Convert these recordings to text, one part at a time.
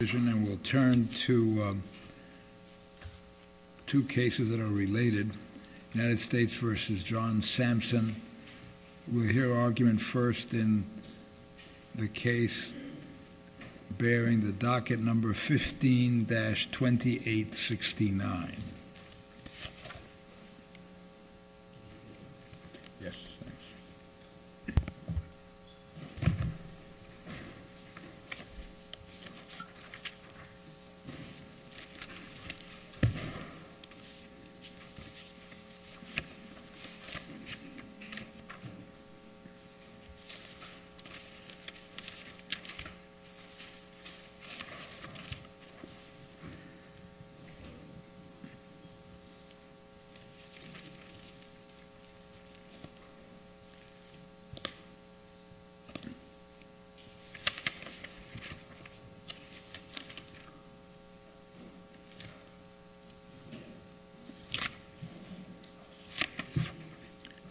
and we'll turn to two cases that are related. United States v. John Sampson. We'll hear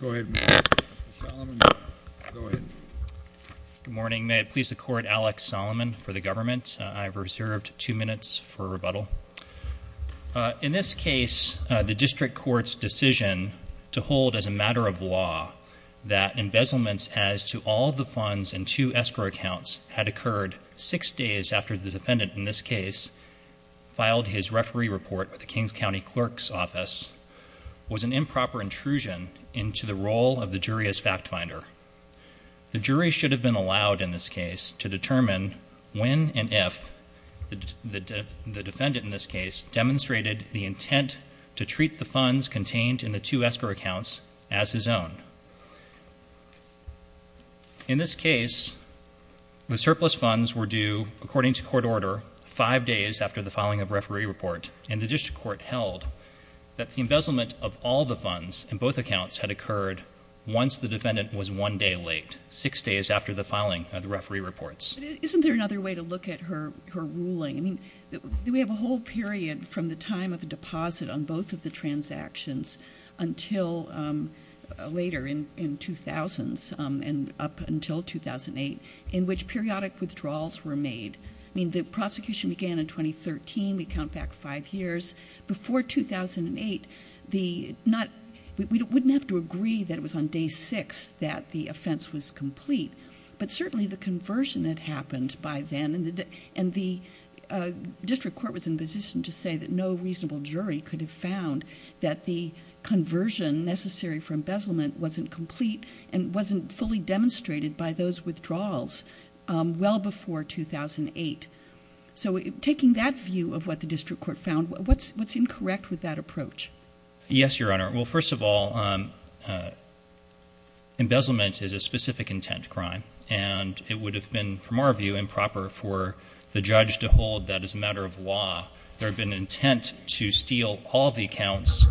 from Mr. Solomon. Go ahead. Good morning. May it please the court, Alex Solomon for the government. I've reserved two minutes for rebuttal. In this case, the district court's decision to hold as a matter of law that embezzlement as to all the funds and two escrow accounts had occurred six days after the defendant in this case filed his referee report with the King's County clerk's office was an improper intrusion into the role of the jury as fact finder. The jury should have been allowed in this case to determine when and if the defendant in this case demonstrated the intent to treat the funds contained in the two escrow accounts as his own. In this case, the surplus funds were due according to court order five days after the filing of referee report and the district court held that the embezzlement of all the funds in both accounts had occurred once the defendant was one day late, six days after the filing of the referee reports. Isn't there another way to look at her ruling? We have a whole period from the time of the deposit on both of the transactions until later in 2000s and up until 2008 in which periodic withdrawals were made. I mean the prosecution began in 2013. We count back five years. Before 2008, we wouldn't have to agree that it was on day six that the offense was complete, but certainly the conversion had happened by then and the district court was in position to say that no reasonable jury could have found that the conversion necessary for embezzlement wasn't complete and wasn't fully demonstrated by those withdrawals well before 2008. So taking that view of what the district court found, what's incorrect with that approach? Yes, your honor. Well, first of all, embezzlement is a specific intent crime and it would have been, from our view, improper for the judge to hold that as a matter of law there had been intent to steal all the accounts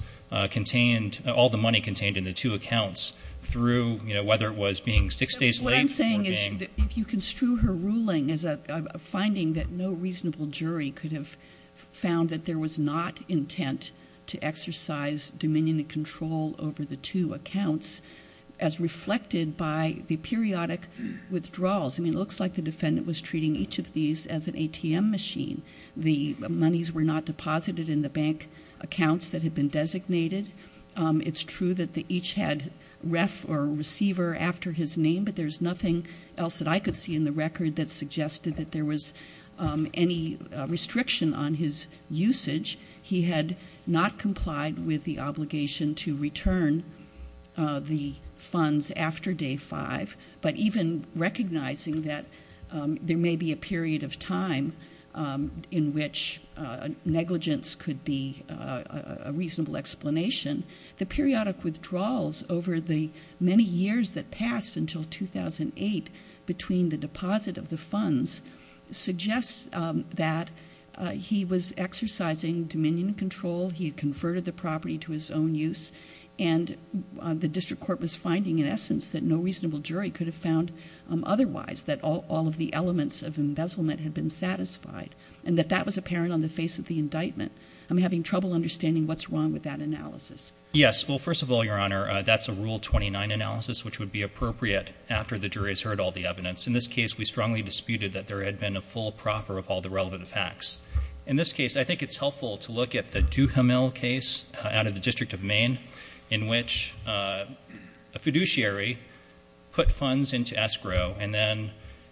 contained, all the money contained in the two accounts through, you know, whether it was being six days late. What I'm saying is if you construe her ruling as a finding that no reasonable jury could have found that there was not intent to exercise dominion and control over the two accounts collected by the periodic withdrawals. I mean, it looks like the defendant was treating each of these as an ATM machine. The monies were not deposited in the bank accounts that had been designated. It's true that they each had ref or receiver after his name, but there's nothing else that I could see in the record that suggested that there was any restriction on his usage. He had not complied with the obligation to withdraw after day five, but even recognizing that there may be a period of time in which negligence could be a reasonable explanation, the periodic withdrawals over the many years that passed until 2008 between the deposit of the funds suggests that he was exercising dominion control. He had converted the property to his own use and the district court was finding in essence that no reasonable jury could have found otherwise that all of the elements of embezzlement had been satisfied and that that was apparent on the face of the indictment. I'm having trouble understanding what's wrong with that analysis. Yes, well, first of all, Your Honor, that's a Rule 29 analysis, which would be appropriate after the jury has heard all the evidence. In this case, we strongly disputed that there had been a full proffer of all the relevant facts. In this case, I think it's helpful to look at the Duhamel case out of the District of Maine, in which a fiduciary put funds into escrow and then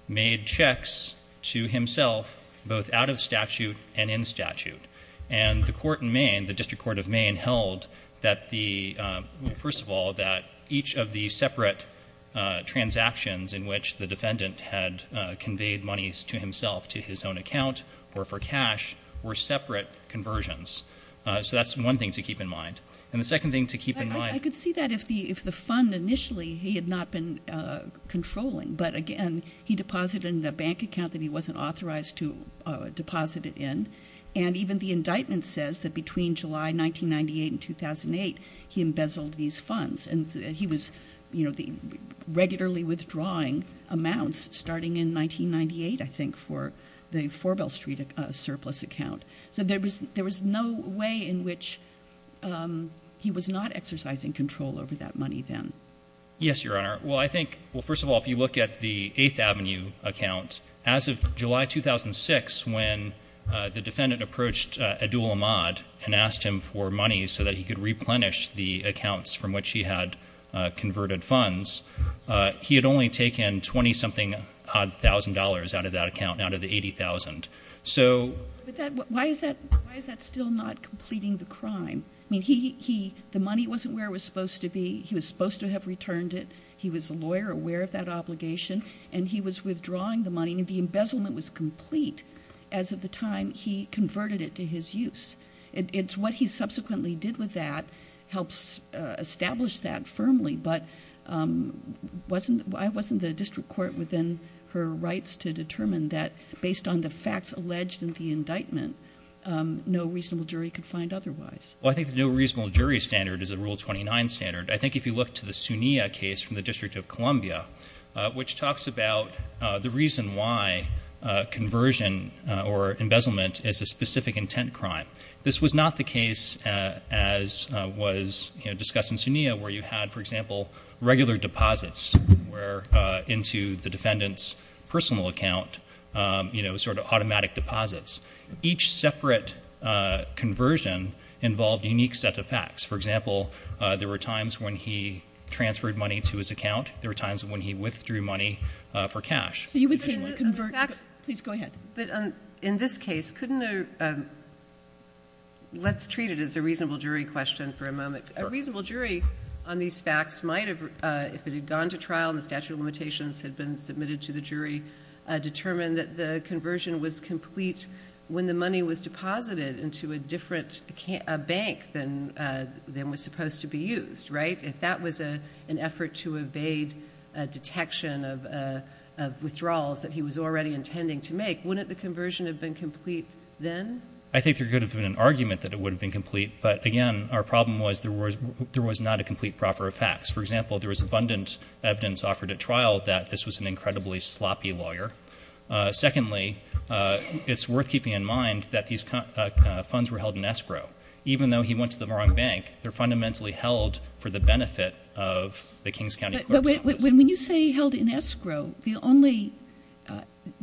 made checks to himself, both out of statute and in statute. And the court in Maine, the District Court of Maine, held that the, well, first of all, that each of the separate transactions in which the defendant had conveyed monies to himself to his own account or for cash were separate conversions. So that's one thing to keep in mind. And the second thing to keep in mind... I could see that if the fund initially he had not been controlling, but again, he deposited in a bank account that he wasn't authorized to deposit it in. And even the indictment says that between July 1998 and 2008, he embezzled these funds. And he was, you know, regularly withdrawing amounts starting in 1998, I think, for the Four Bell Street surplus account. So there was no way in which he was not exercising control over that money then. Yes, Your Honor. Well, I think, well, first of all, if you look at the 8th Avenue account, as of July 2006, when the defendant approached Abdul Ahmad and asked him for money so that he could He had only taken 20-something-odd thousand dollars out of that account, out of the 80,000. So... Why is that still not completing the crime? I mean, the money wasn't where it was supposed to be. He was supposed to have returned it. He was a lawyer aware of that obligation, and he was withdrawing the money. And the embezzlement was complete as of the time he converted it to his use. It's what he subsequently did with that helps establish that firmly. But wasn't, why wasn't the district court within her rights to determine that, based on the facts alleged in the indictment, no reasonable jury could find otherwise? Well, I think the no reasonable jury standard is a Rule 29 standard. I think if you look to the Sunia case from the District of Columbia, which talks about the reason why conversion or embezzlement is a specific intent crime. This was not the case, as was discussed in Sunia, where you had, for example, regular deposits, where into the defendant's personal account, you know, sort of automatic deposits. Each separate conversion involved a unique set of facts. For example, there were times when he transferred money to his account. There were times when he withdrew money for cash. You would say that a fact... Please go ahead. But in this case, couldn't a, let's treat it as a reasonable jury question for a moment. A reasonable jury on these facts might have, if it had gone to trial and the statute of limitations had been submitted to the jury, determined that the conversion was complete when the money was deposited into a different bank than was supposed to be used, right? If that was an effort to evade detection of withdrawals that he was already intending to make, wouldn't the conversion have been complete then? I think there could have been an argument that it would have been complete. But again, our problem was there was not a complete proffer of facts. For example, there was abundant evidence offered at trial that this was an incredibly sloppy lawyer. Secondly, it's worth keeping in mind that these funds were held in escrow. Even though he went to the wrong bank, they're fundamentally held for the benefit of the Kings County Courts Office. When you say held in escrow, the only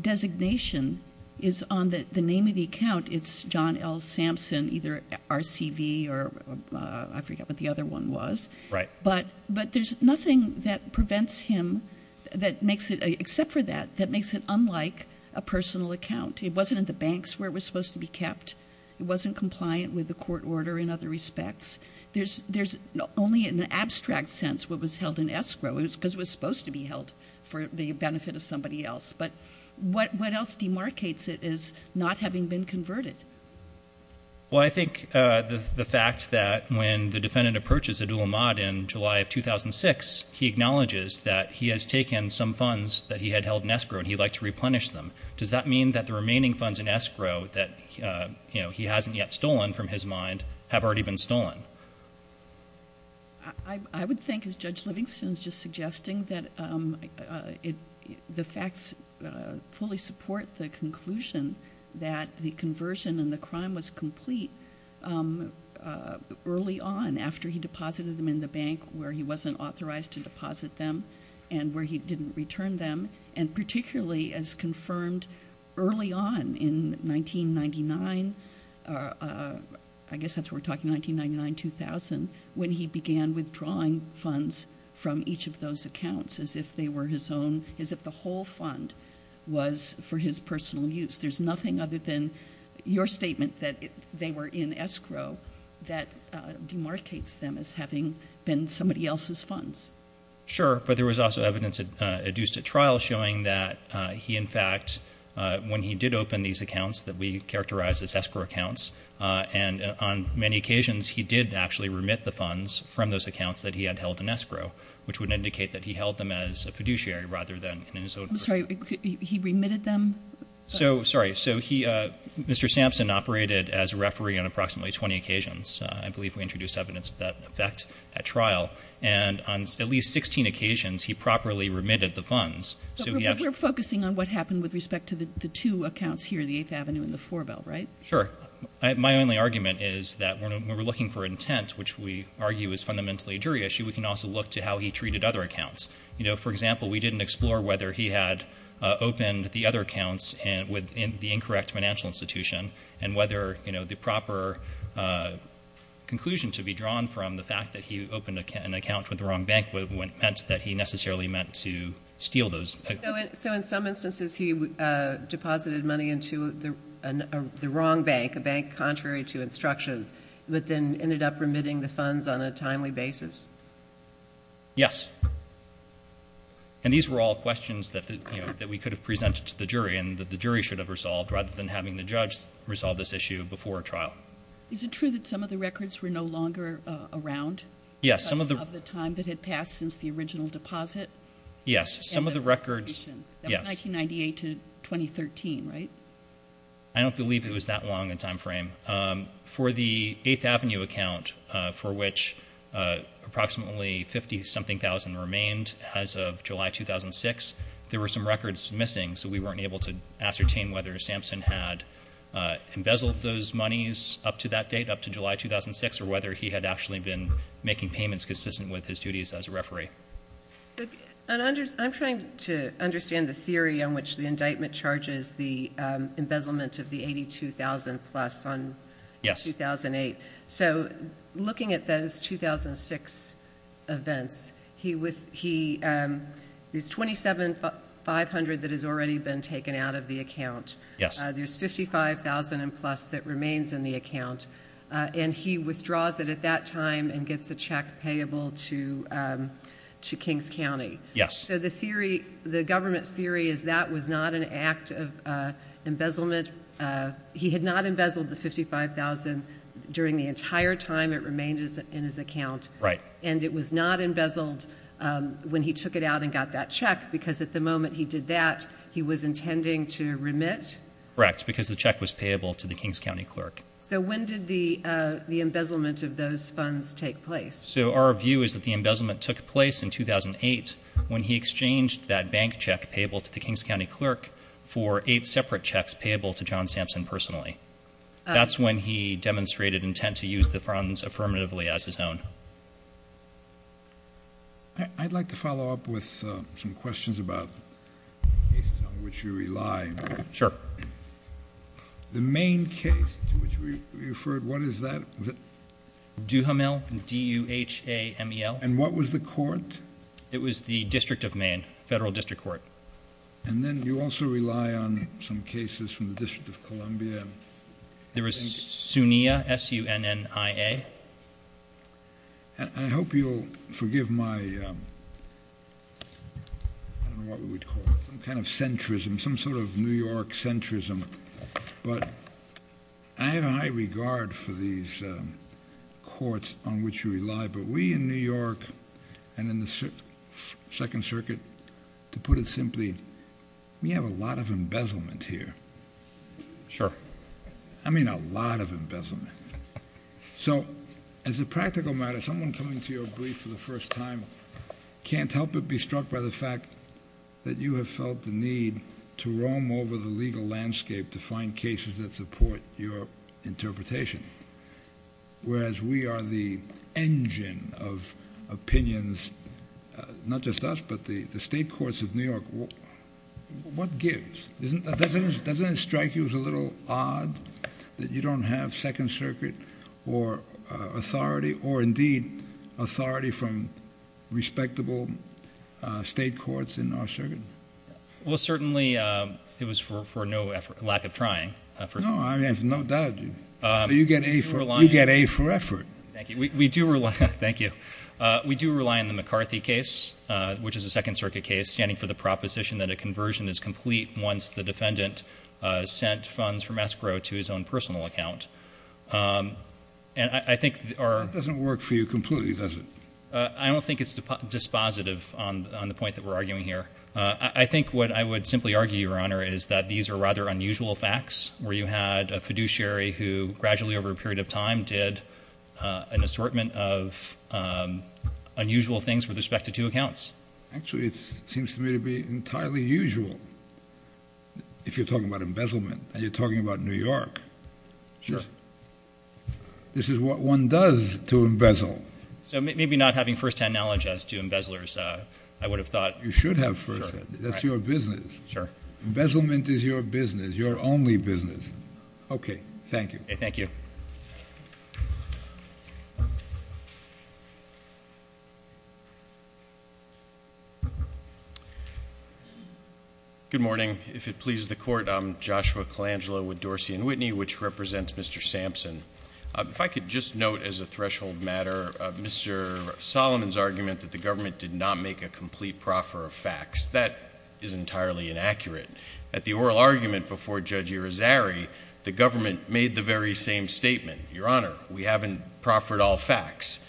designation is on the name of the account. It's John L. I forget what the other one was. But there's nothing that prevents him, except for that, that makes it unlike a personal account. It wasn't in the banks where it was supposed to be kept. It wasn't compliant with the court order in other respects. There's only in an abstract sense what was held in escrow because it was supposed to be held for the benefit of somebody else. But what else demarcates it is not having been converted. Well, I think the fact that when the defendant approaches Abdul Ahmad in July of 2006, he acknowledges that he has taken some funds that he had held in escrow and he'd like to replenish them. Does that mean that the remaining funds in escrow that he hasn't yet stolen from his mind have already been stolen? I would think as Judge Livingston's just suggesting that it, the facts fully support the conclusion that the conversion and the crime was complete early on after he deposited them in the bank where he wasn't authorized to deposit them and where he didn't return them. And particularly as confirmed early on in 1999, I guess that's what we're talking 1999-2000, when he began withdrawing funds from each of his accounts as if the whole fund was for his personal use. There's nothing other than your statement that they were in escrow that demarcates them as having been somebody else's funds. Sure, but there was also evidence adduced at trial showing that he in fact, when he did open these accounts that we characterize as escrow accounts, and on many occasions he did actually remit the funds from those accounts that he had held in escrow, which would indicate that he held them as a fiduciary rather than in his own... I'm sorry, he remitted them? So, sorry, so he, Mr. Sampson operated as a referee on approximately 20 occasions. I believe we introduced evidence of that effect at trial. And on at least 16 occasions, he properly remitted the funds. So we're focusing on what happened with respect to the two accounts here, the Eighth Avenue and the Fourville, right? Sure. My only argument is that when we're looking for intent, which we argue is fundamentally a jury issue, we can also look to how he treated other accounts. You know, for example, we didn't explore whether he had opened the other accounts with the incorrect financial institution and whether, you know, the proper conclusion to be drawn from the fact that he opened an account with the wrong bank meant that he necessarily meant to steal those. So in some instances, he deposited money into the wrong bank, a bank contrary to instructions, but then ended up remitting the funds on a timely basis. Yes. And these were all questions that, you know, that we could have presented to the jury and that the jury should have resolved rather than having the judge resolve this issue before trial. Is it true that some of the records were no longer around? Yes, some of the... Because of the time that had passed since the original deposit? Yes, some of the records... And the resolution. That was 1998 to 2013, right? I don't believe it was that long a time frame. For the 8th Avenue account, for which approximately 50-something thousand remained as of July 2006, there were some records missing, so we weren't able to ascertain whether Sampson had embezzled those monies up to that date, up to July 2006, or whether he had actually been making payments consistent with his duties as a referee. So I'm trying to understand the theory on which the indictment charges the embezzlement of the $82,000 plus on 2008. So looking at those 2006 events, there's $27,500 that has already been taken out of the account. There's $55,000 plus that remains in the account, and he withdraws it at that time and gets a check payable to Kings County. Yes. So the theory, the government's theory is that was not an act of embezzlement. He had not embezzled the $55,000 during the entire time it remained in his account. Right. And it was not embezzled when he took it out and got that check, because at the moment he did that, he was intending to remit? Correct, because the check was payable to the Kings County clerk. So when did the embezzlement of those funds take place? So our view is that the embezzlement took place in 2008 when he exchanged that bank check payable to the Kings County clerk for eight separate checks payable to John Sampson personally. That's when he demonstrated intent to use the funds affirmatively as his own. I'd like to follow up with some questions about cases on which you rely. Sure. The Maine case to which we referred, what is that? Duhamel, D-U-H-A-M-E-L. And what was the court? It was the District of Maine, Federal District Court. And then you also rely on some cases from the District of Columbia. There was SUNNIA, S-U-N-N-I-A. And I hope you'll forgive my, I don't know what we would call it, some kind of centrism, some sort of New York centrism. But I have a high regard for these courts on which you rely. But we in New York and in the Second Circuit, to put it simply, we have a lot of embezzlement here. Sure. I mean a lot of embezzlement. So as a practical matter, someone coming to your brief for the first time can't help but be struck by the fact that you have felt the need to roam over the legal landscape to find cases that support your interpretation. Whereas we are the engine of opinions, not just us, but the state courts of New York. What gives? Doesn't it strike you as a little odd that you don't have Second Circuit or authority, authority from respectable state courts in our circuit? Well, certainly it was for no effort, lack of trying. No, I have no doubt. You get A for effort. Thank you. We do rely, thank you. We do rely on the McCarthy case, which is a Second Circuit case, standing for the proposition that a conversion is complete once the defendant sent funds from escrow to his own personal account. And I think our It doesn't work for you completely, does it? I don't think it's dispositive on the point that we're arguing here. I think what I would simply argue, Your Honor, is that these are rather unusual facts, where you had a fiduciary who gradually over a period of time did an assortment of unusual things with respect to two accounts. Actually, it seems to me to be entirely usual. If you're talking about embezzlement and you're talking about New York. Sure. Sure. This is what one does to embezzle. So maybe not having firsthand knowledge as to embezzlers, I would have thought. You should have firsthand. That's your business. Sure. Embezzlement is your business, your only business. Okay. Thank you. Thank you. If it pleases the Court, I'm Joshua Colangelo with Dorsey & Whitney, which represents Mr. Sampson. If I could just note as a threshold matter Mr. Solomon's argument that the government did not make a complete proffer of facts. That is entirely inaccurate. At the oral argument before Judge Irizarry, the government made the very same statement. Your Honor, we haven't proffered all facts.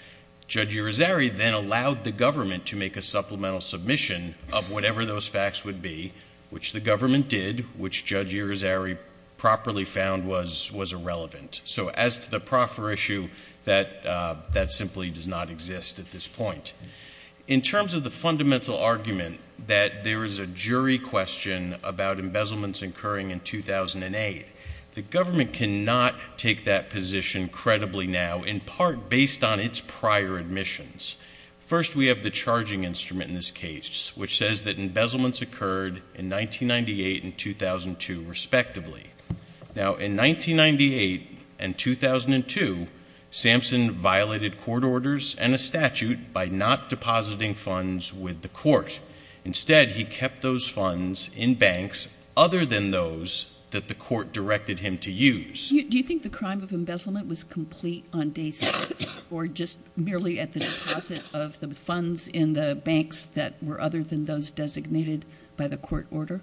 Judge Irizarry then allowed the government to make a supplemental submission of whatever those facts would be, which the government did, which Judge Irizarry properly found was irrelevant. So as to the proffer issue, that simply does not exist at this point. In terms of the fundamental argument that there is a jury question about embezzlements occurring in 2008, the government cannot take that position credibly now, in part based on its prior admissions. First, we have the charging instrument in this case, which says that embezzlements occurred in 1998 and 2002, respectively. Now, in 1998 and 2002, Sampson violated court orders and a statute by not depositing funds with the court. Instead, he kept those funds in banks other than those that the court directed him to use. Do you think the crime of embezzlement was complete on day six, or just merely at the court order?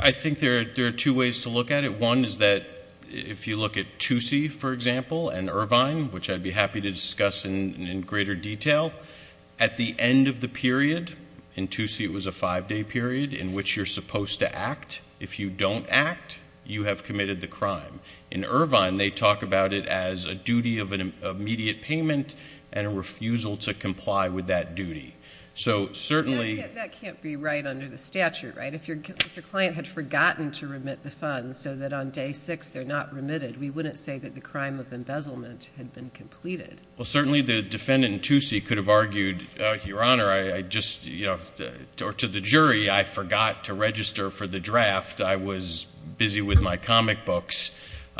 I think there are two ways to look at it. One is that if you look at Toosie, for example, and Irvine, which I'd be happy to discuss in greater detail, at the end of the period, in Toosie it was a five-day period in which you're supposed to act. If you don't act, you have committed the crime. In Irvine, they talk about it as a duty of an immediate payment and a refusal to comply with that duty. So certainly— That can't be right under the statute, right? If your client had forgotten to remit the funds so that on day six they're not remitted, we wouldn't say that the crime of embezzlement had been completed. Well, certainly the defendant in Toosie could have argued, Your Honor, I just—or to the jury, I forgot to register for the draft. I was busy with my comic books.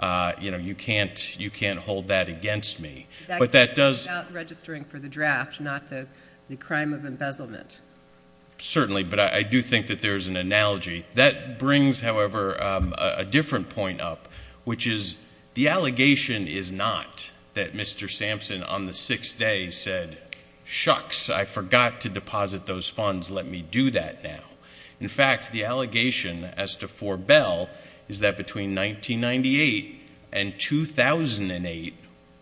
You know, you can't hold that against me. But that does— Certainly, but I do think that there's an analogy. That brings, however, a different point up, which is the allegation is not that Mr. Sampson on the sixth day said, shucks, I forgot to deposit those funds. Let me do that now. In fact, the allegation as to Forebell is that between 1998 and 2008,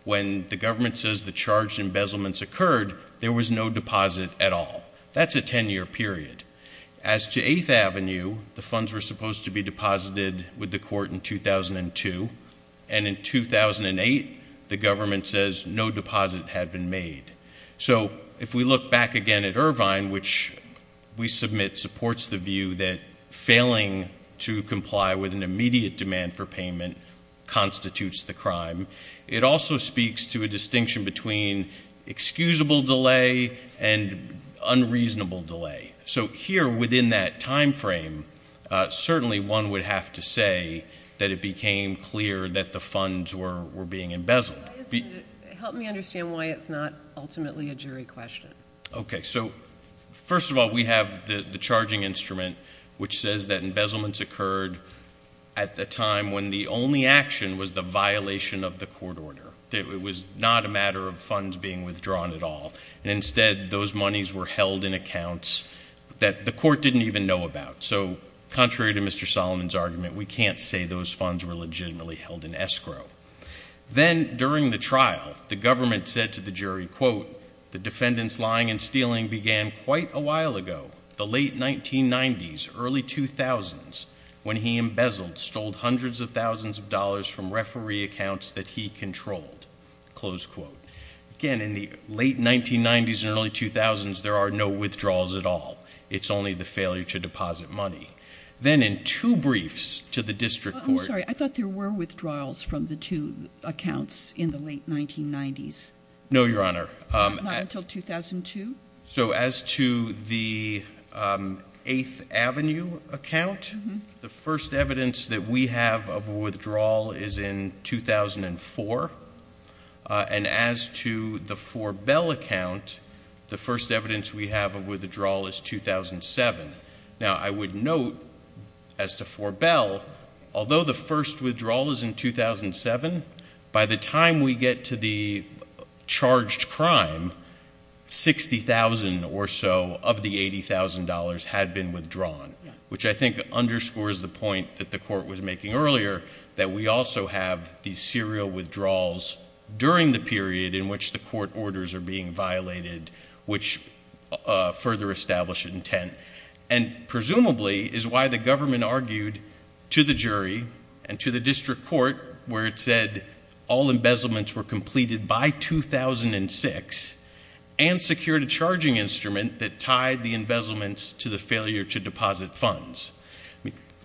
when the government says the charged embezzlement occurred, there was no deposit at all. That's a 10-year period. As to Eighth Avenue, the funds were supposed to be deposited with the court in 2002, and in 2008, the government says no deposit had been made. So if we look back again at Irvine, which we submit supports the view that failing to comply with an immediate demand for payment constitutes the crime. It also speaks to a distinction between excusable delay and unreasonable delay. So here, within that time frame, certainly one would have to say that it became clear that the funds were being embezzled. Help me understand why it's not ultimately a jury question. Okay. So first of all, we have the charging instrument, which says that embezzlement occurred at the time when the only action was the violation of the court order, that it was not a matter of funds being withdrawn at all. And instead, those monies were held in accounts that the court didn't even know about. So contrary to Mr. Solomon's argument, we can't say those funds were legitimately held in escrow. Then, during the trial, the government said to the jury, quote, the defendant's lying and stealing began quite a while ago, the late 1990s, early 2000s, when he embezzled, stole hundreds of thousands of dollars from referee accounts that he controlled, close quote. Again, in the late 1990s and early 2000s, there are no withdrawals at all. It's only the failure to deposit money. Then, in two briefs to the district court— I'm sorry. I thought there were withdrawals from the two accounts in the late 1990s. No, Your Honor. Not until 2002? So as to the 8th Avenue account, the first evidence that we have of a withdrawal is in 2004. And as to the Four Bell account, the first evidence we have of withdrawal is 2007. Now, I would note, as to Four Bell, although the first withdrawal is in 2007, by the time we get to the charged crime, $60,000 or so of the $80,000 had been withdrawn, which I think underscores the point that the court was making earlier, that we also have these serial withdrawals during the period in which the court orders are being violated, which further establish intent, and presumably is why the government argued to the jury and the district court where it said all embezzlements were completed by 2006 and secured a charging instrument that tied the embezzlements to the failure to deposit funds.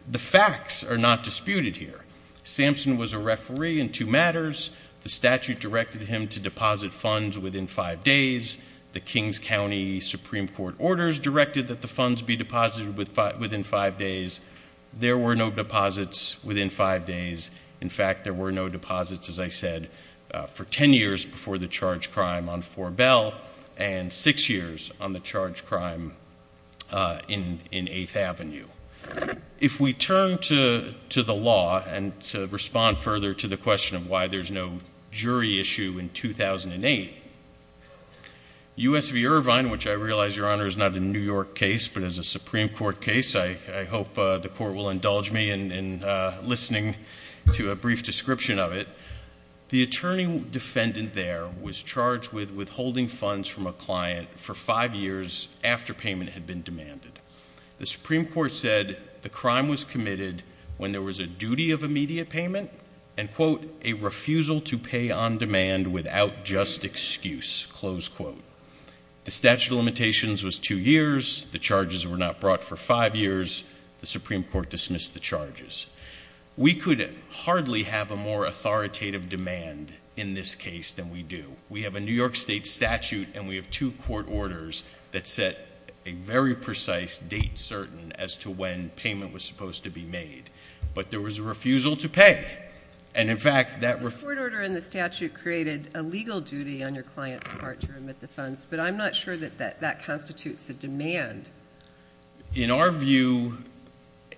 The facts are not disputed here. Sampson was a referee in two matters. The statute directed him to deposit funds within five days. The Kings County Supreme Court orders directed that the funds be deposited within five days. There were no deposits within five days. In fact, there were no deposits, as I said, for 10 years before the charged crime on Four Bell and six years on the charged crime in 8th Avenue. If we turn to the law and to respond further to the question of why there's no jury issue in 2008, U.S. v. Irvine, which I realize, Your Honor, is not a New York case but is a the court will indulge me in listening to a brief description of it. The attorney defendant there was charged with withholding funds from a client for five years after payment had been demanded. The Supreme Court said the crime was committed when there was a duty of immediate payment and, quote, a refusal to pay on demand without just excuse, close quote. The statute of limitations was two years. The charges were not brought for five years. The Supreme Court dismissed the charges. We could hardly have a more authoritative demand in this case than we do. We have a New York state statute and we have two court orders that set a very precise date certain as to when payment was supposed to be made. But there was a refusal to pay. And, in fact, that- The court order in the statute created a legal duty on your client's part to remit the funds, but I'm not sure that that constitutes a demand. In our view,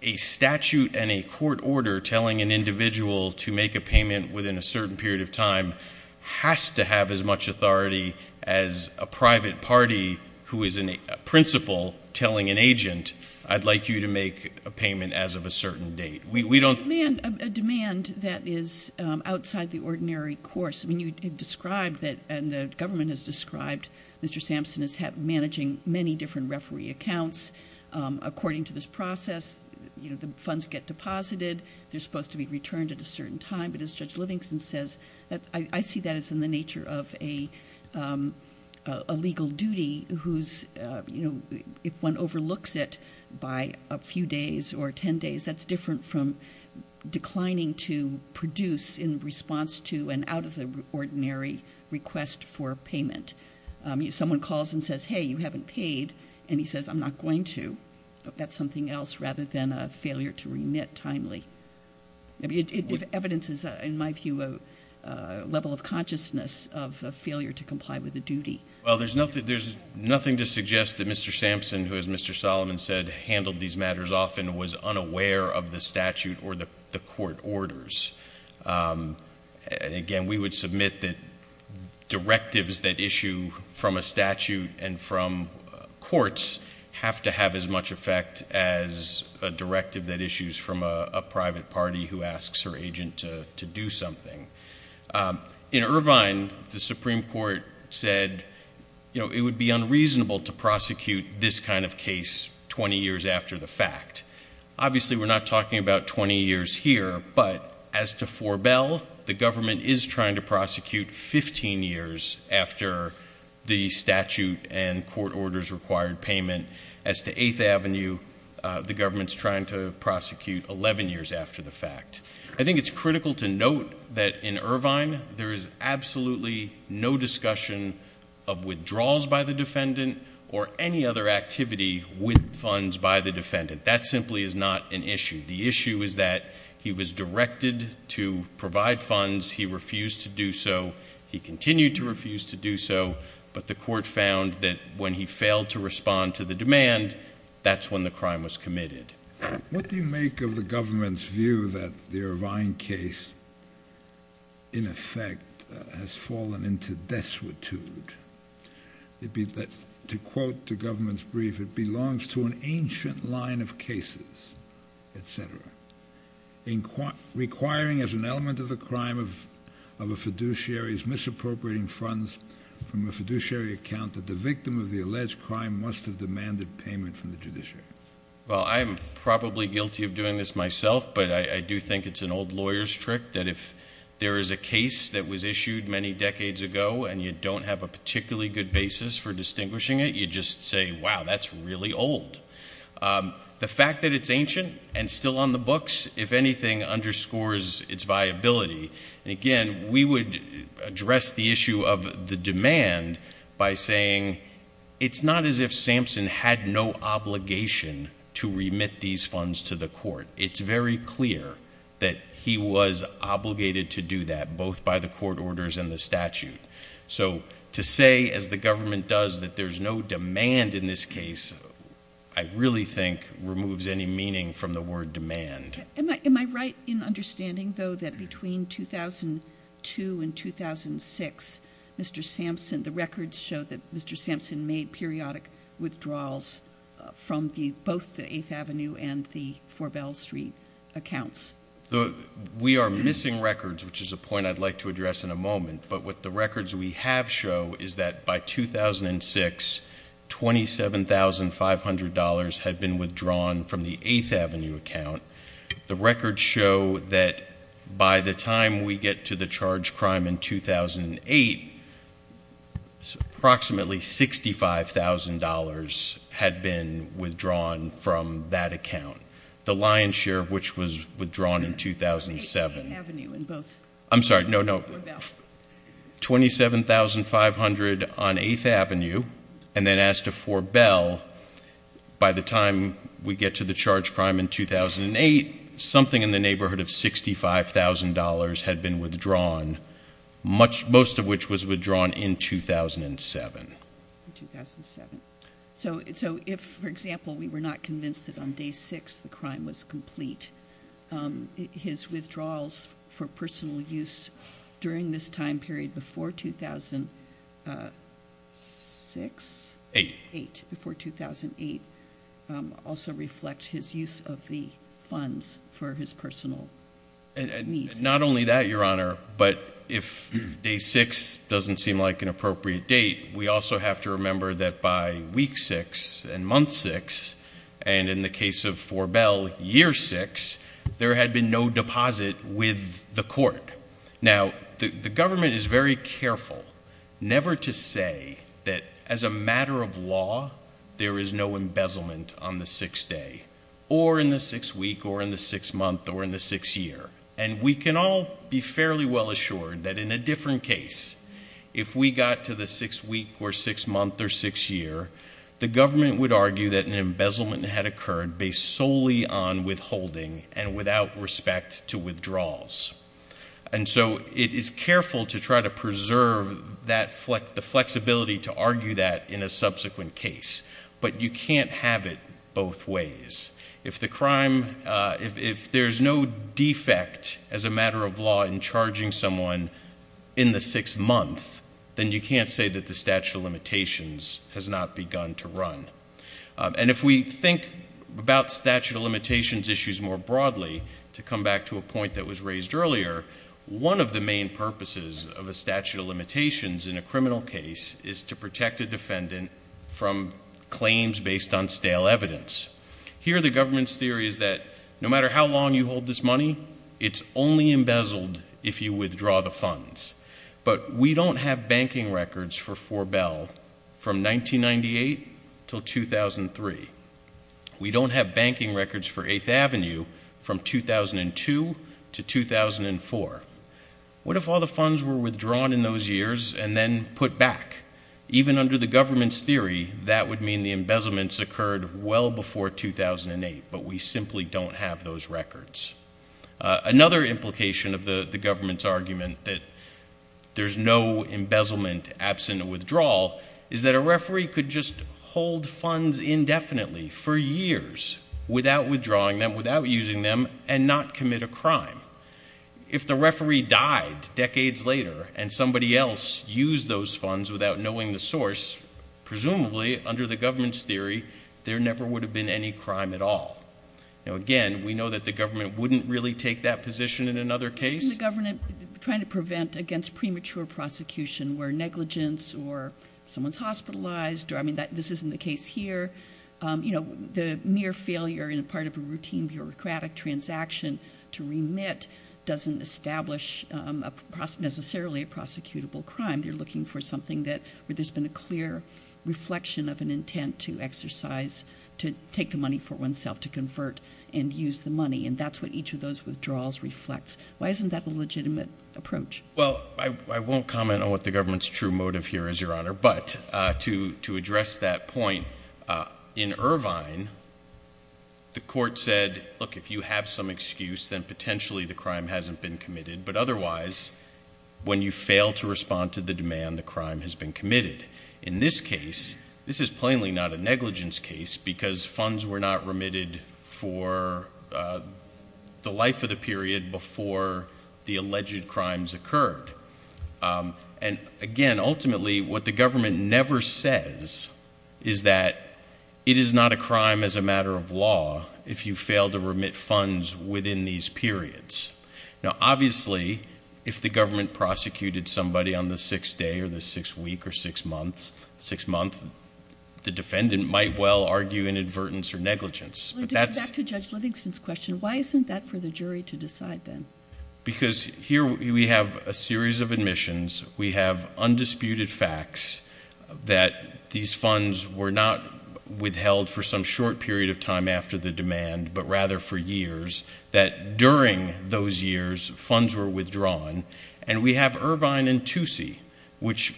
a statute and a court order telling an individual to make a payment within a certain period of time has to have as much authority as a private party who is a principal telling an agent, I'd like you to make a payment as of a certain date. We don't- A demand that is outside the ordinary course. I mean, you described that and the government has described Mr. Livingston's case. According to this process, the funds get deposited. They're supposed to be returned at a certain time. But as Judge Livingston says, I see that as in the nature of a legal duty who's- If one overlooks it by a few days or ten days, that's different from declining to produce in response to an out of the ordinary request for payment. Someone calls and says, hey, you haven't paid. And he says, I'm not going to. That's something else rather than a failure to remit timely. I mean, evidence is, in my view, a level of consciousness of a failure to comply with a duty. Well, there's nothing to suggest that Mr. Sampson, who, as Mr. Solomon said, handled these matters often, was unaware of the statute or the court orders. And again, we would submit that directives that issue from a statute and from courts have to have as much effect as a directive that issues from a private party who asks her agent to do something. In Irvine, the Supreme Court said it would be unreasonable to prosecute this kind of case 20 years after the fact. Obviously, we're not talking about 20 years here. But as to Four Bell, the government is trying to prosecute 15 years after the statute and court orders required payment. As to Eighth Avenue, the government's trying to prosecute 11 years after the fact. I think it's critical to note that in Irvine, there is absolutely no discussion of withdrawals by the defendant or any other activity with funds by the defendant. That simply is not an issue. The issue is that he was directed to provide funds. He refused to do so. He continued to refuse to do so. But the court found that when he failed to respond to the demand, that's when the crime was committed. What do you make of the government's view that the Irvine case, in effect, has fallen into destitute? To quote the government's brief, it belongs to an ancient line of cases, et cetera, requiring as an element of the crime of a fiduciary's misappropriating funds from a fiduciary account that the victim of the alleged crime must have demanded payment from the judiciary? Well, I'm probably guilty of doing this myself, but I do think it's an old lawyer's trick that if there is a case that was issued many decades ago and you don't have a particularly good basis for distinguishing it, you just say, wow, that's really old. The fact that it's ancient and still on the books, if anything, underscores its viability. And again, we would address the issue of the demand by saying it's not as if Sampson had no obligation to remit these funds to the court. It's very clear that he was obligated to do that, both by the court orders and the statute. So to say, as the government does, that there's no demand in this case, I really think removes any meaning from the word demand. Am I right in understanding, though, that between 2002 and 2006, Mr. Sampson, the records show that Mr. Sampson made periodic withdrawals from both the 8th Avenue and the Four Bell Street accounts? We are missing records, which is a point I'd like to address in a moment. But what the records we have show is that by 2006, $27,500 had been withdrawn from the 8th Avenue account. The records show that by the time we get to the charged crime in 2008, approximately $65,000 had been withdrawn from that account, the lion's share of which was withdrawn in 2007. I'm sorry, no, no. $27,500 on 8th Avenue, and then as to Four Bell, by the time we get to the charged crime in 2008, something in the neighborhood of $65,000 had been withdrawn, most of which was withdrawn in 2007. So if, for example, we were not convinced that on day six the crime was complete, his withdrawals for personal use during this time period before 2006, before 2008, also reflect his use of the funds for his personal needs. Not only that, Your Honor, but if day six doesn't seem like an appropriate date, we also have to remember that by week six and month six, and in the case of Four Bell, year six, there had been no deposit with the court. Now, the government is very careful never to say that as a matter of law, there is no embezzlement on the sixth day, or in the sixth week, or in the sixth month, or in the sixth year. And we can all be fairly well assured that in a different case, if we got to the sixth week, or sixth month, or sixth year, the government would argue that an embezzlement had without respect to withdrawals. And so it is careful to try to preserve the flexibility to argue that in a subsequent case. But you can't have it both ways. If there's no defect as a matter of law in charging someone in the sixth month, then you can't say that the statute of limitations has not begun to run. And if we think about statute of limitations issues more broadly, to come back to a point that was raised earlier, one of the main purposes of a statute of limitations in a criminal case is to protect a defendant from claims based on stale evidence. Here, the government's theory is that no matter how long you hold this money, it's only But we don't have banking records for Forbel from 1998 to 2003. We don't have banking records for 8th Avenue from 2002 to 2004. What if all the funds were withdrawn in those years and then put back? Even under the government's theory, that would mean the embezzlement occurred well before 2008. But we simply don't have those records. Another implication of the government's argument that there's no embezzlement absent of withdrawal is that a referee could just hold funds indefinitely for years without withdrawing them, without using them, and not commit a crime. If the referee died decades later and somebody else used those funds without knowing the source, presumably under the government's theory, there never would have been any crime at all. Again, we know that the government wouldn't really take that position in another case. Isn't the government trying to prevent against premature prosecution where negligence or someone's hospitalized? This isn't the case here. The mere failure in part of a routine bureaucratic transaction to remit doesn't establish necessarily a prosecutable crime. They're looking for something where there's been a clear reflection of an intent to take the money for oneself, to convert and use the money. And that's what each of those withdrawals reflects. Why isn't that a legitimate approach? Well, I won't comment on what the government's true motive here is, Your Honor. But to address that point, in Irvine, the court said, look, if you have some excuse, then potentially the crime hasn't been committed. But otherwise, when you fail to respond to the demand, the crime has been committed. In this case, this is plainly not a negligence case because funds were not remitted for the life of the period before the alleged crimes occurred. And again, ultimately, what the government never says is that it is not a crime as a matter of law if you fail to remit funds within these periods. Now, obviously, if the government prosecuted somebody on the sixth day or the sixth week or sixth month, the defendant might well argue inadvertence or negligence. Well, to get back to Judge Livingston's question, why isn't that for the jury to decide then? Because here we have a series of admissions. We have undisputed facts that these funds were not withheld for some short period of the demand, but rather for years, that during those years, funds were withdrawn. And we have Irvine and Toosie, which,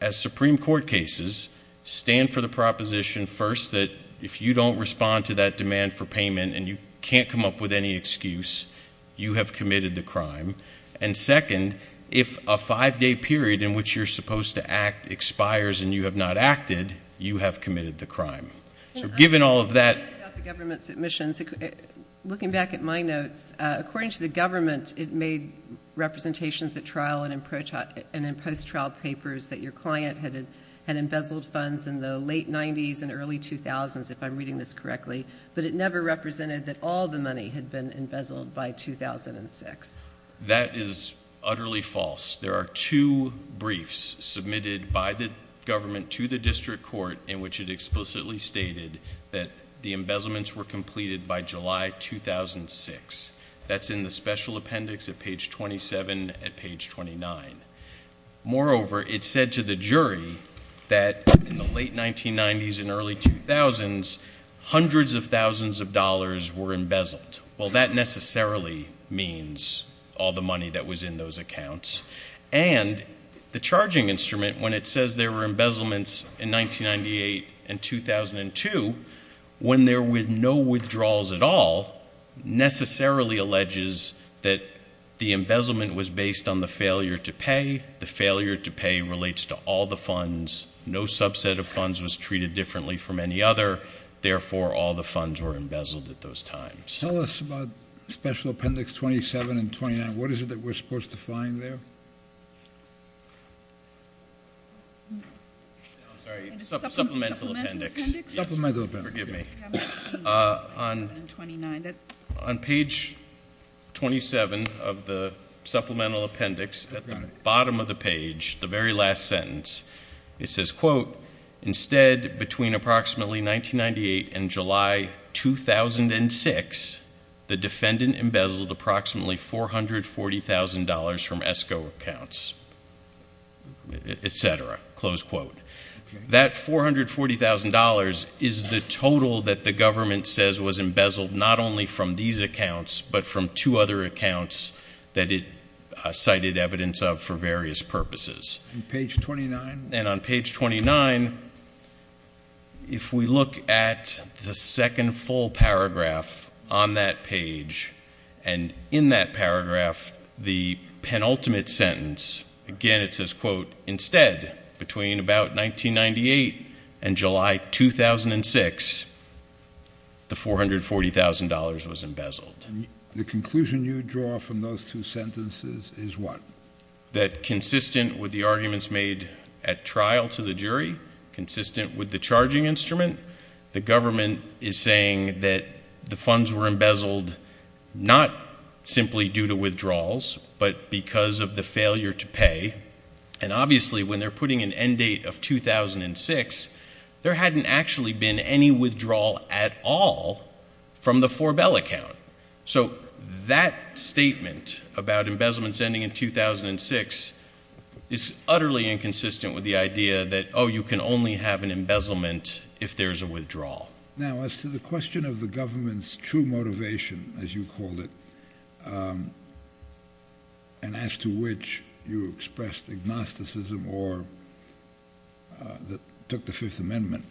as Supreme Court cases, stand for the proposition first that if you don't respond to that demand for payment and you can't come up with any excuse, you have committed the crime. And second, if a five-day period in which you're supposed to act expires and you have not acted, you have committed the crime. So given all of that— I'm curious about the government's admissions. Looking back at my notes, according to the government, it made representations at trial and in post-trial papers that your client had embezzled funds in the late 90s and early 2000s, if I'm reading this correctly, but it never represented that all the money had been embezzled by 2006. That is utterly false. There are two briefs submitted by the government to the district court in which it explicitly stated that the embezzlements were completed by July 2006. That's in the special appendix at page 27 at page 29. Moreover, it said to the jury that in the late 1990s and early 2000s, hundreds of thousands of dollars were embezzled. Well, that necessarily means all the money that was in those accounts. And the charging instrument, when it says there were embezzlements in 1998 and 2002, when there were no withdrawals at all, necessarily alleges that the embezzlement was based on the failure to pay. The failure to pay relates to all the funds. No subset of funds was treated differently from any other. Therefore, all the funds were embezzled at those times. Tell us about special appendix 27 and 29. What is it that we're supposed to find there? No, I'm sorry, supplemental appendix. Supplemental appendix. Forgive me. On page 27 of the supplemental appendix, at the bottom of the page, the very last sentence, it says, quote, instead, between approximately 1998 and July 2006, the defendant embezzled approximately $440,000 from ESCO accounts, et cetera, close quote. That $440,000 is the total that the government says was embezzled not only from these accounts, but from two other accounts that it cited evidence of for various purposes. And page 29? And on page 29, if we look at the second full paragraph on that page, and in that paragraph, the penultimate sentence, again, it says, quote, instead, between about 1998 and July 2006, the $440,000 was embezzled. The conclusion you draw from those two sentences is what? That consistent with the arguments made at trial to the jury, consistent with the charging instrument, the government is saying that the funds were embezzled not simply due to withdrawals, but because of the failure to pay. And obviously, when they're putting an end date of 2006, there hadn't actually been any withdrawal at all from the Forbel account. So that statement about embezzlement ending in 2006 is utterly inconsistent with the idea that, oh, you can only have an embezzlement if there's a withdrawal. Now, as to the question of the government's true motivation, as you called it, and as to which you expressed agnosticism or that took the Fifth Amendment,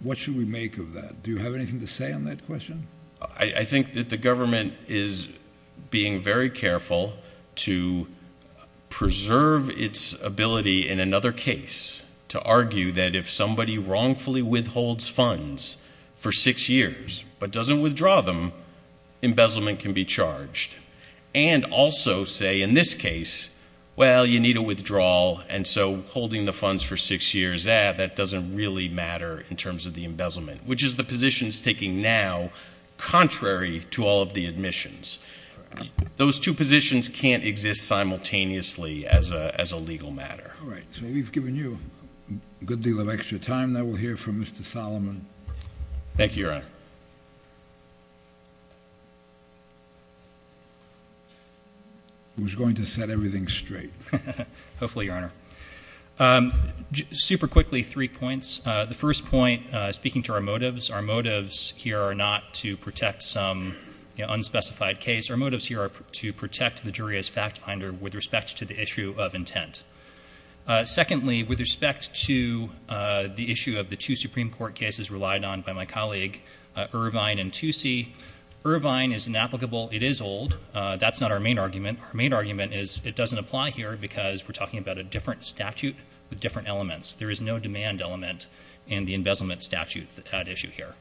what should we make of that? Do you have anything to say on that question? I think that the government is being very careful to preserve its ability in another case to argue that if somebody wrongfully withholds funds for six years, but doesn't withdraw them, embezzlement can be charged. And also say, in this case, well, you need a withdrawal. And so holding the funds for six years, that doesn't really matter in terms of the embezzlement, which is the position it's taking now, contrary to all of the admissions. Those two positions can't exist simultaneously as a legal matter. All right. So we've given you a good deal of extra time. Now we'll hear from Mr. Solomon. Thank you, Your Honor. Who's going to set everything straight. Hopefully, Your Honor. Super quickly, three points. The first point, speaking to our motives. Our motives here are not to protect some unspecified case. Our motives here are to protect the jury as fact finder with respect to the issue of intent. Secondly, with respect to the issue of the two Supreme Court cases relied on by my colleague, Irvine and Toosie, Irvine is inapplicable. It is old. That's not our main argument. Our main argument is it doesn't apply here because we're talking about a different statute with different elements. There is no demand element in the embezzlement statute at issue here.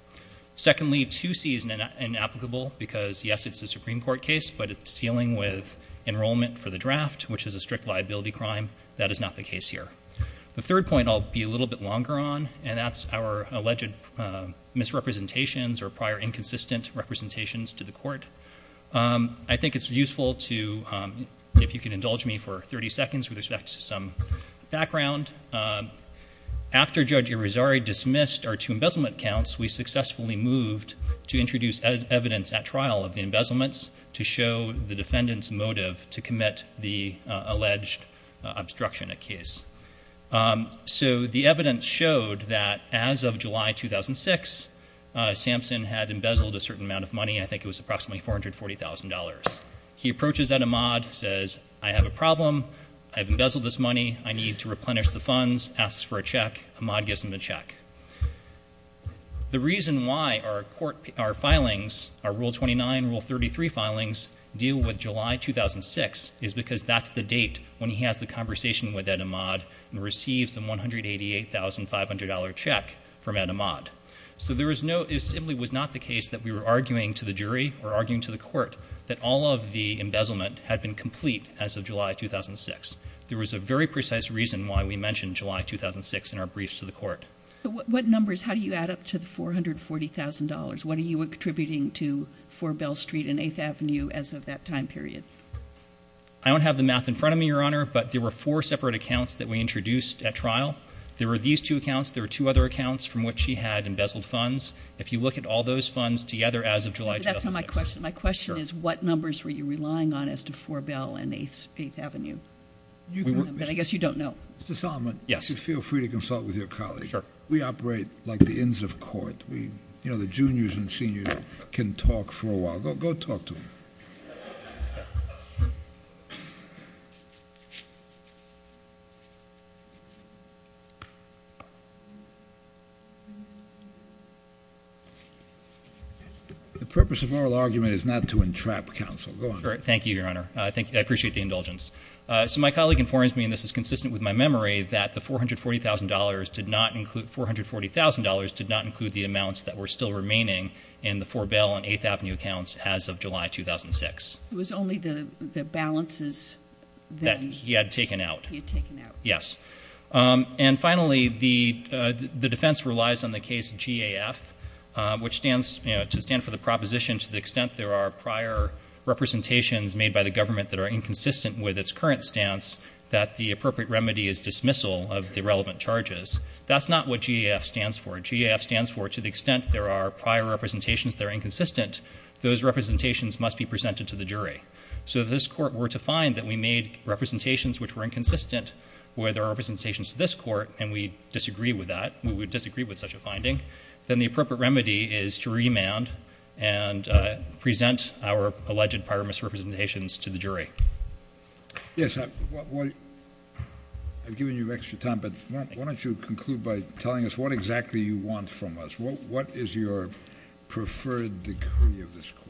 Secondly, Toosie is inapplicable because, yes, it's a Supreme Court case, but it's dealing with enrollment for the draft, which is a strict liability crime. That is not the case here. The third point I'll be a little bit longer on, and that's our alleged misrepresentations or prior inconsistent representations to the court. I think it's useful to, if you can indulge me for 30 seconds with respect to some background. After Judge Irizarry dismissed our two embezzlement counts, we successfully moved to introduce evidence at trial of the embezzlements to show the defendant's motive to commit the alleged obstruction of case. So the evidence showed that as of July 2006, Sampson had embezzled a certain amount of money. I think it was approximately $440,000. He approaches Ed Ahmad, says, I have a problem. I've embezzled this money. I need to replenish the funds. Asks for a check. Ahmad gives him the check. The reason why our court, our filings, our Rule 29, Rule 33 filings deal with July 2006 is because that's the date when he has the conversation with Ed Ahmad and receives a $188,500 check from Ed Ahmad. So there was no, it simply was not the case that we were arguing to the jury or arguing to the court that all of the embezzlement had been complete as of July 2006. There was a very precise reason why we mentioned July 2006 in our briefs to the court. So what numbers, how do you add up to the $440,000? What are you attributing to 4 Bell Street and 8th Avenue as of that time period? I don't have the math in front of me, Your Honor, but there were four separate accounts that we introduced at trial. There were these two accounts. There were two other accounts from which he had embezzled funds. If you look at all those funds together as of July 2006. That's not my question. My question is what numbers were you relying on as to 4 Bell and 8th Avenue? I guess you don't know. Mr. Solomon. Yes. Feel free to consult with your colleagues. Sure. We operate like the inns of court. We, you know, the juniors and seniors can talk for a while. Go talk to him. The purpose of oral argument is not to entrap counsel. Go ahead. Thank you, Your Honor. I appreciate the indulgence. So my colleague informs me, and this is consistent with my memory, that the $440,000 did not include, $440,000 did not include the amounts that were still remaining in the 4 Bell and 8th Avenue accounts as of July 2006. It was only the balances that he had taken out. He had taken out. Yes. And finally, the defense relies on the case GAF, which stands, you know, to stand for the proposition to the extent there are prior representations made by the government that are inconsistent with its current stance, that the appropriate remedy is dismissal of the relevant charges. That's not what GAF stands for. GAF stands for, to the extent there are prior representations that are inconsistent, those representations must be presented to the jury. So if this court were to find that we made representations which were inconsistent where there are representations to this court, and we disagree with that, and present our alleged prior misrepresentations to the jury. Yes. I've given you extra time, but why don't you conclude by telling us what exactly you want from us? What is your preferred decree of this court?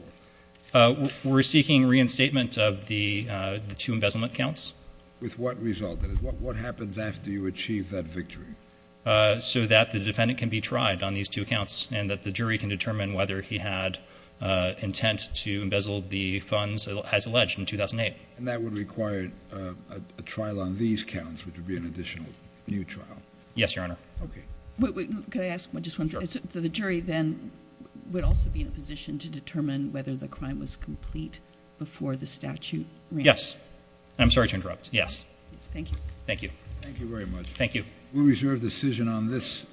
We're seeking reinstatement of the two embezzlement counts. With what result? What happens after you achieve that victory? So that the defendant can be tried on these two accounts, and that the jury can determine whether he had intent to embezzle the funds as alleged in 2008. And that would require a trial on these counts, which would be an additional new trial. Yes, Your Honor. Okay. Wait, wait. Could I ask just one thing? The jury then would also be in a position to determine whether the crime was complete before the statute ran. Yes. I'm sorry to interrupt. Yes. Thank you. Thank you. Thank you very much. Thank you. We reserve decision on this.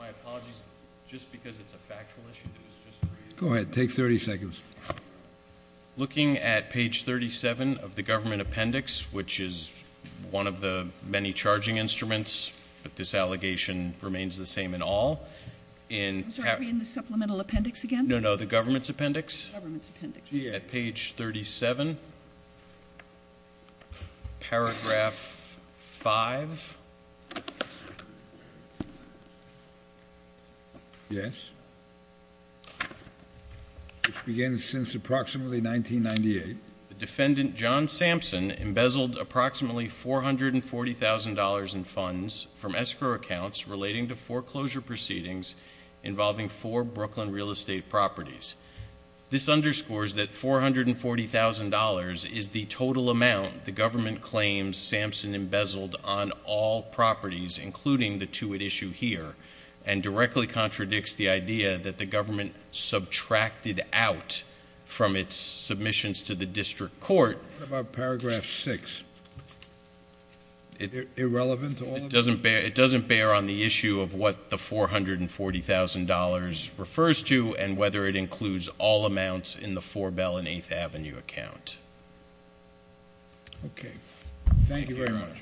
My apologies. Just because it's a factual issue. Go ahead. Take 30 seconds. Looking at page 37 of the government appendix, which is one of the many charging instruments, but this allegation remains the same in all. I'm sorry, are we in the supplemental appendix again? No, no. The government's appendix. Government's appendix. At page 37, paragraph 5. Yes. Which began since approximately 1998. The defendant John Sampson embezzled approximately $440,000 in funds from escrow accounts relating to foreclosure proceedings involving four Brooklyn real estate properties. This underscores that $440,000 is the total amount the government claims Sampson embezzled on all properties, including the two at issue here, and directly contradicts the idea that the government subtracted out from its submissions to the district court. What about paragraph 6? Irrelevant to all of this? It doesn't bear on the issue of what the $440,000 refers to and whether it includes all amounts in the Four Bell and Eighth Avenue account. Okay. Thank you very much.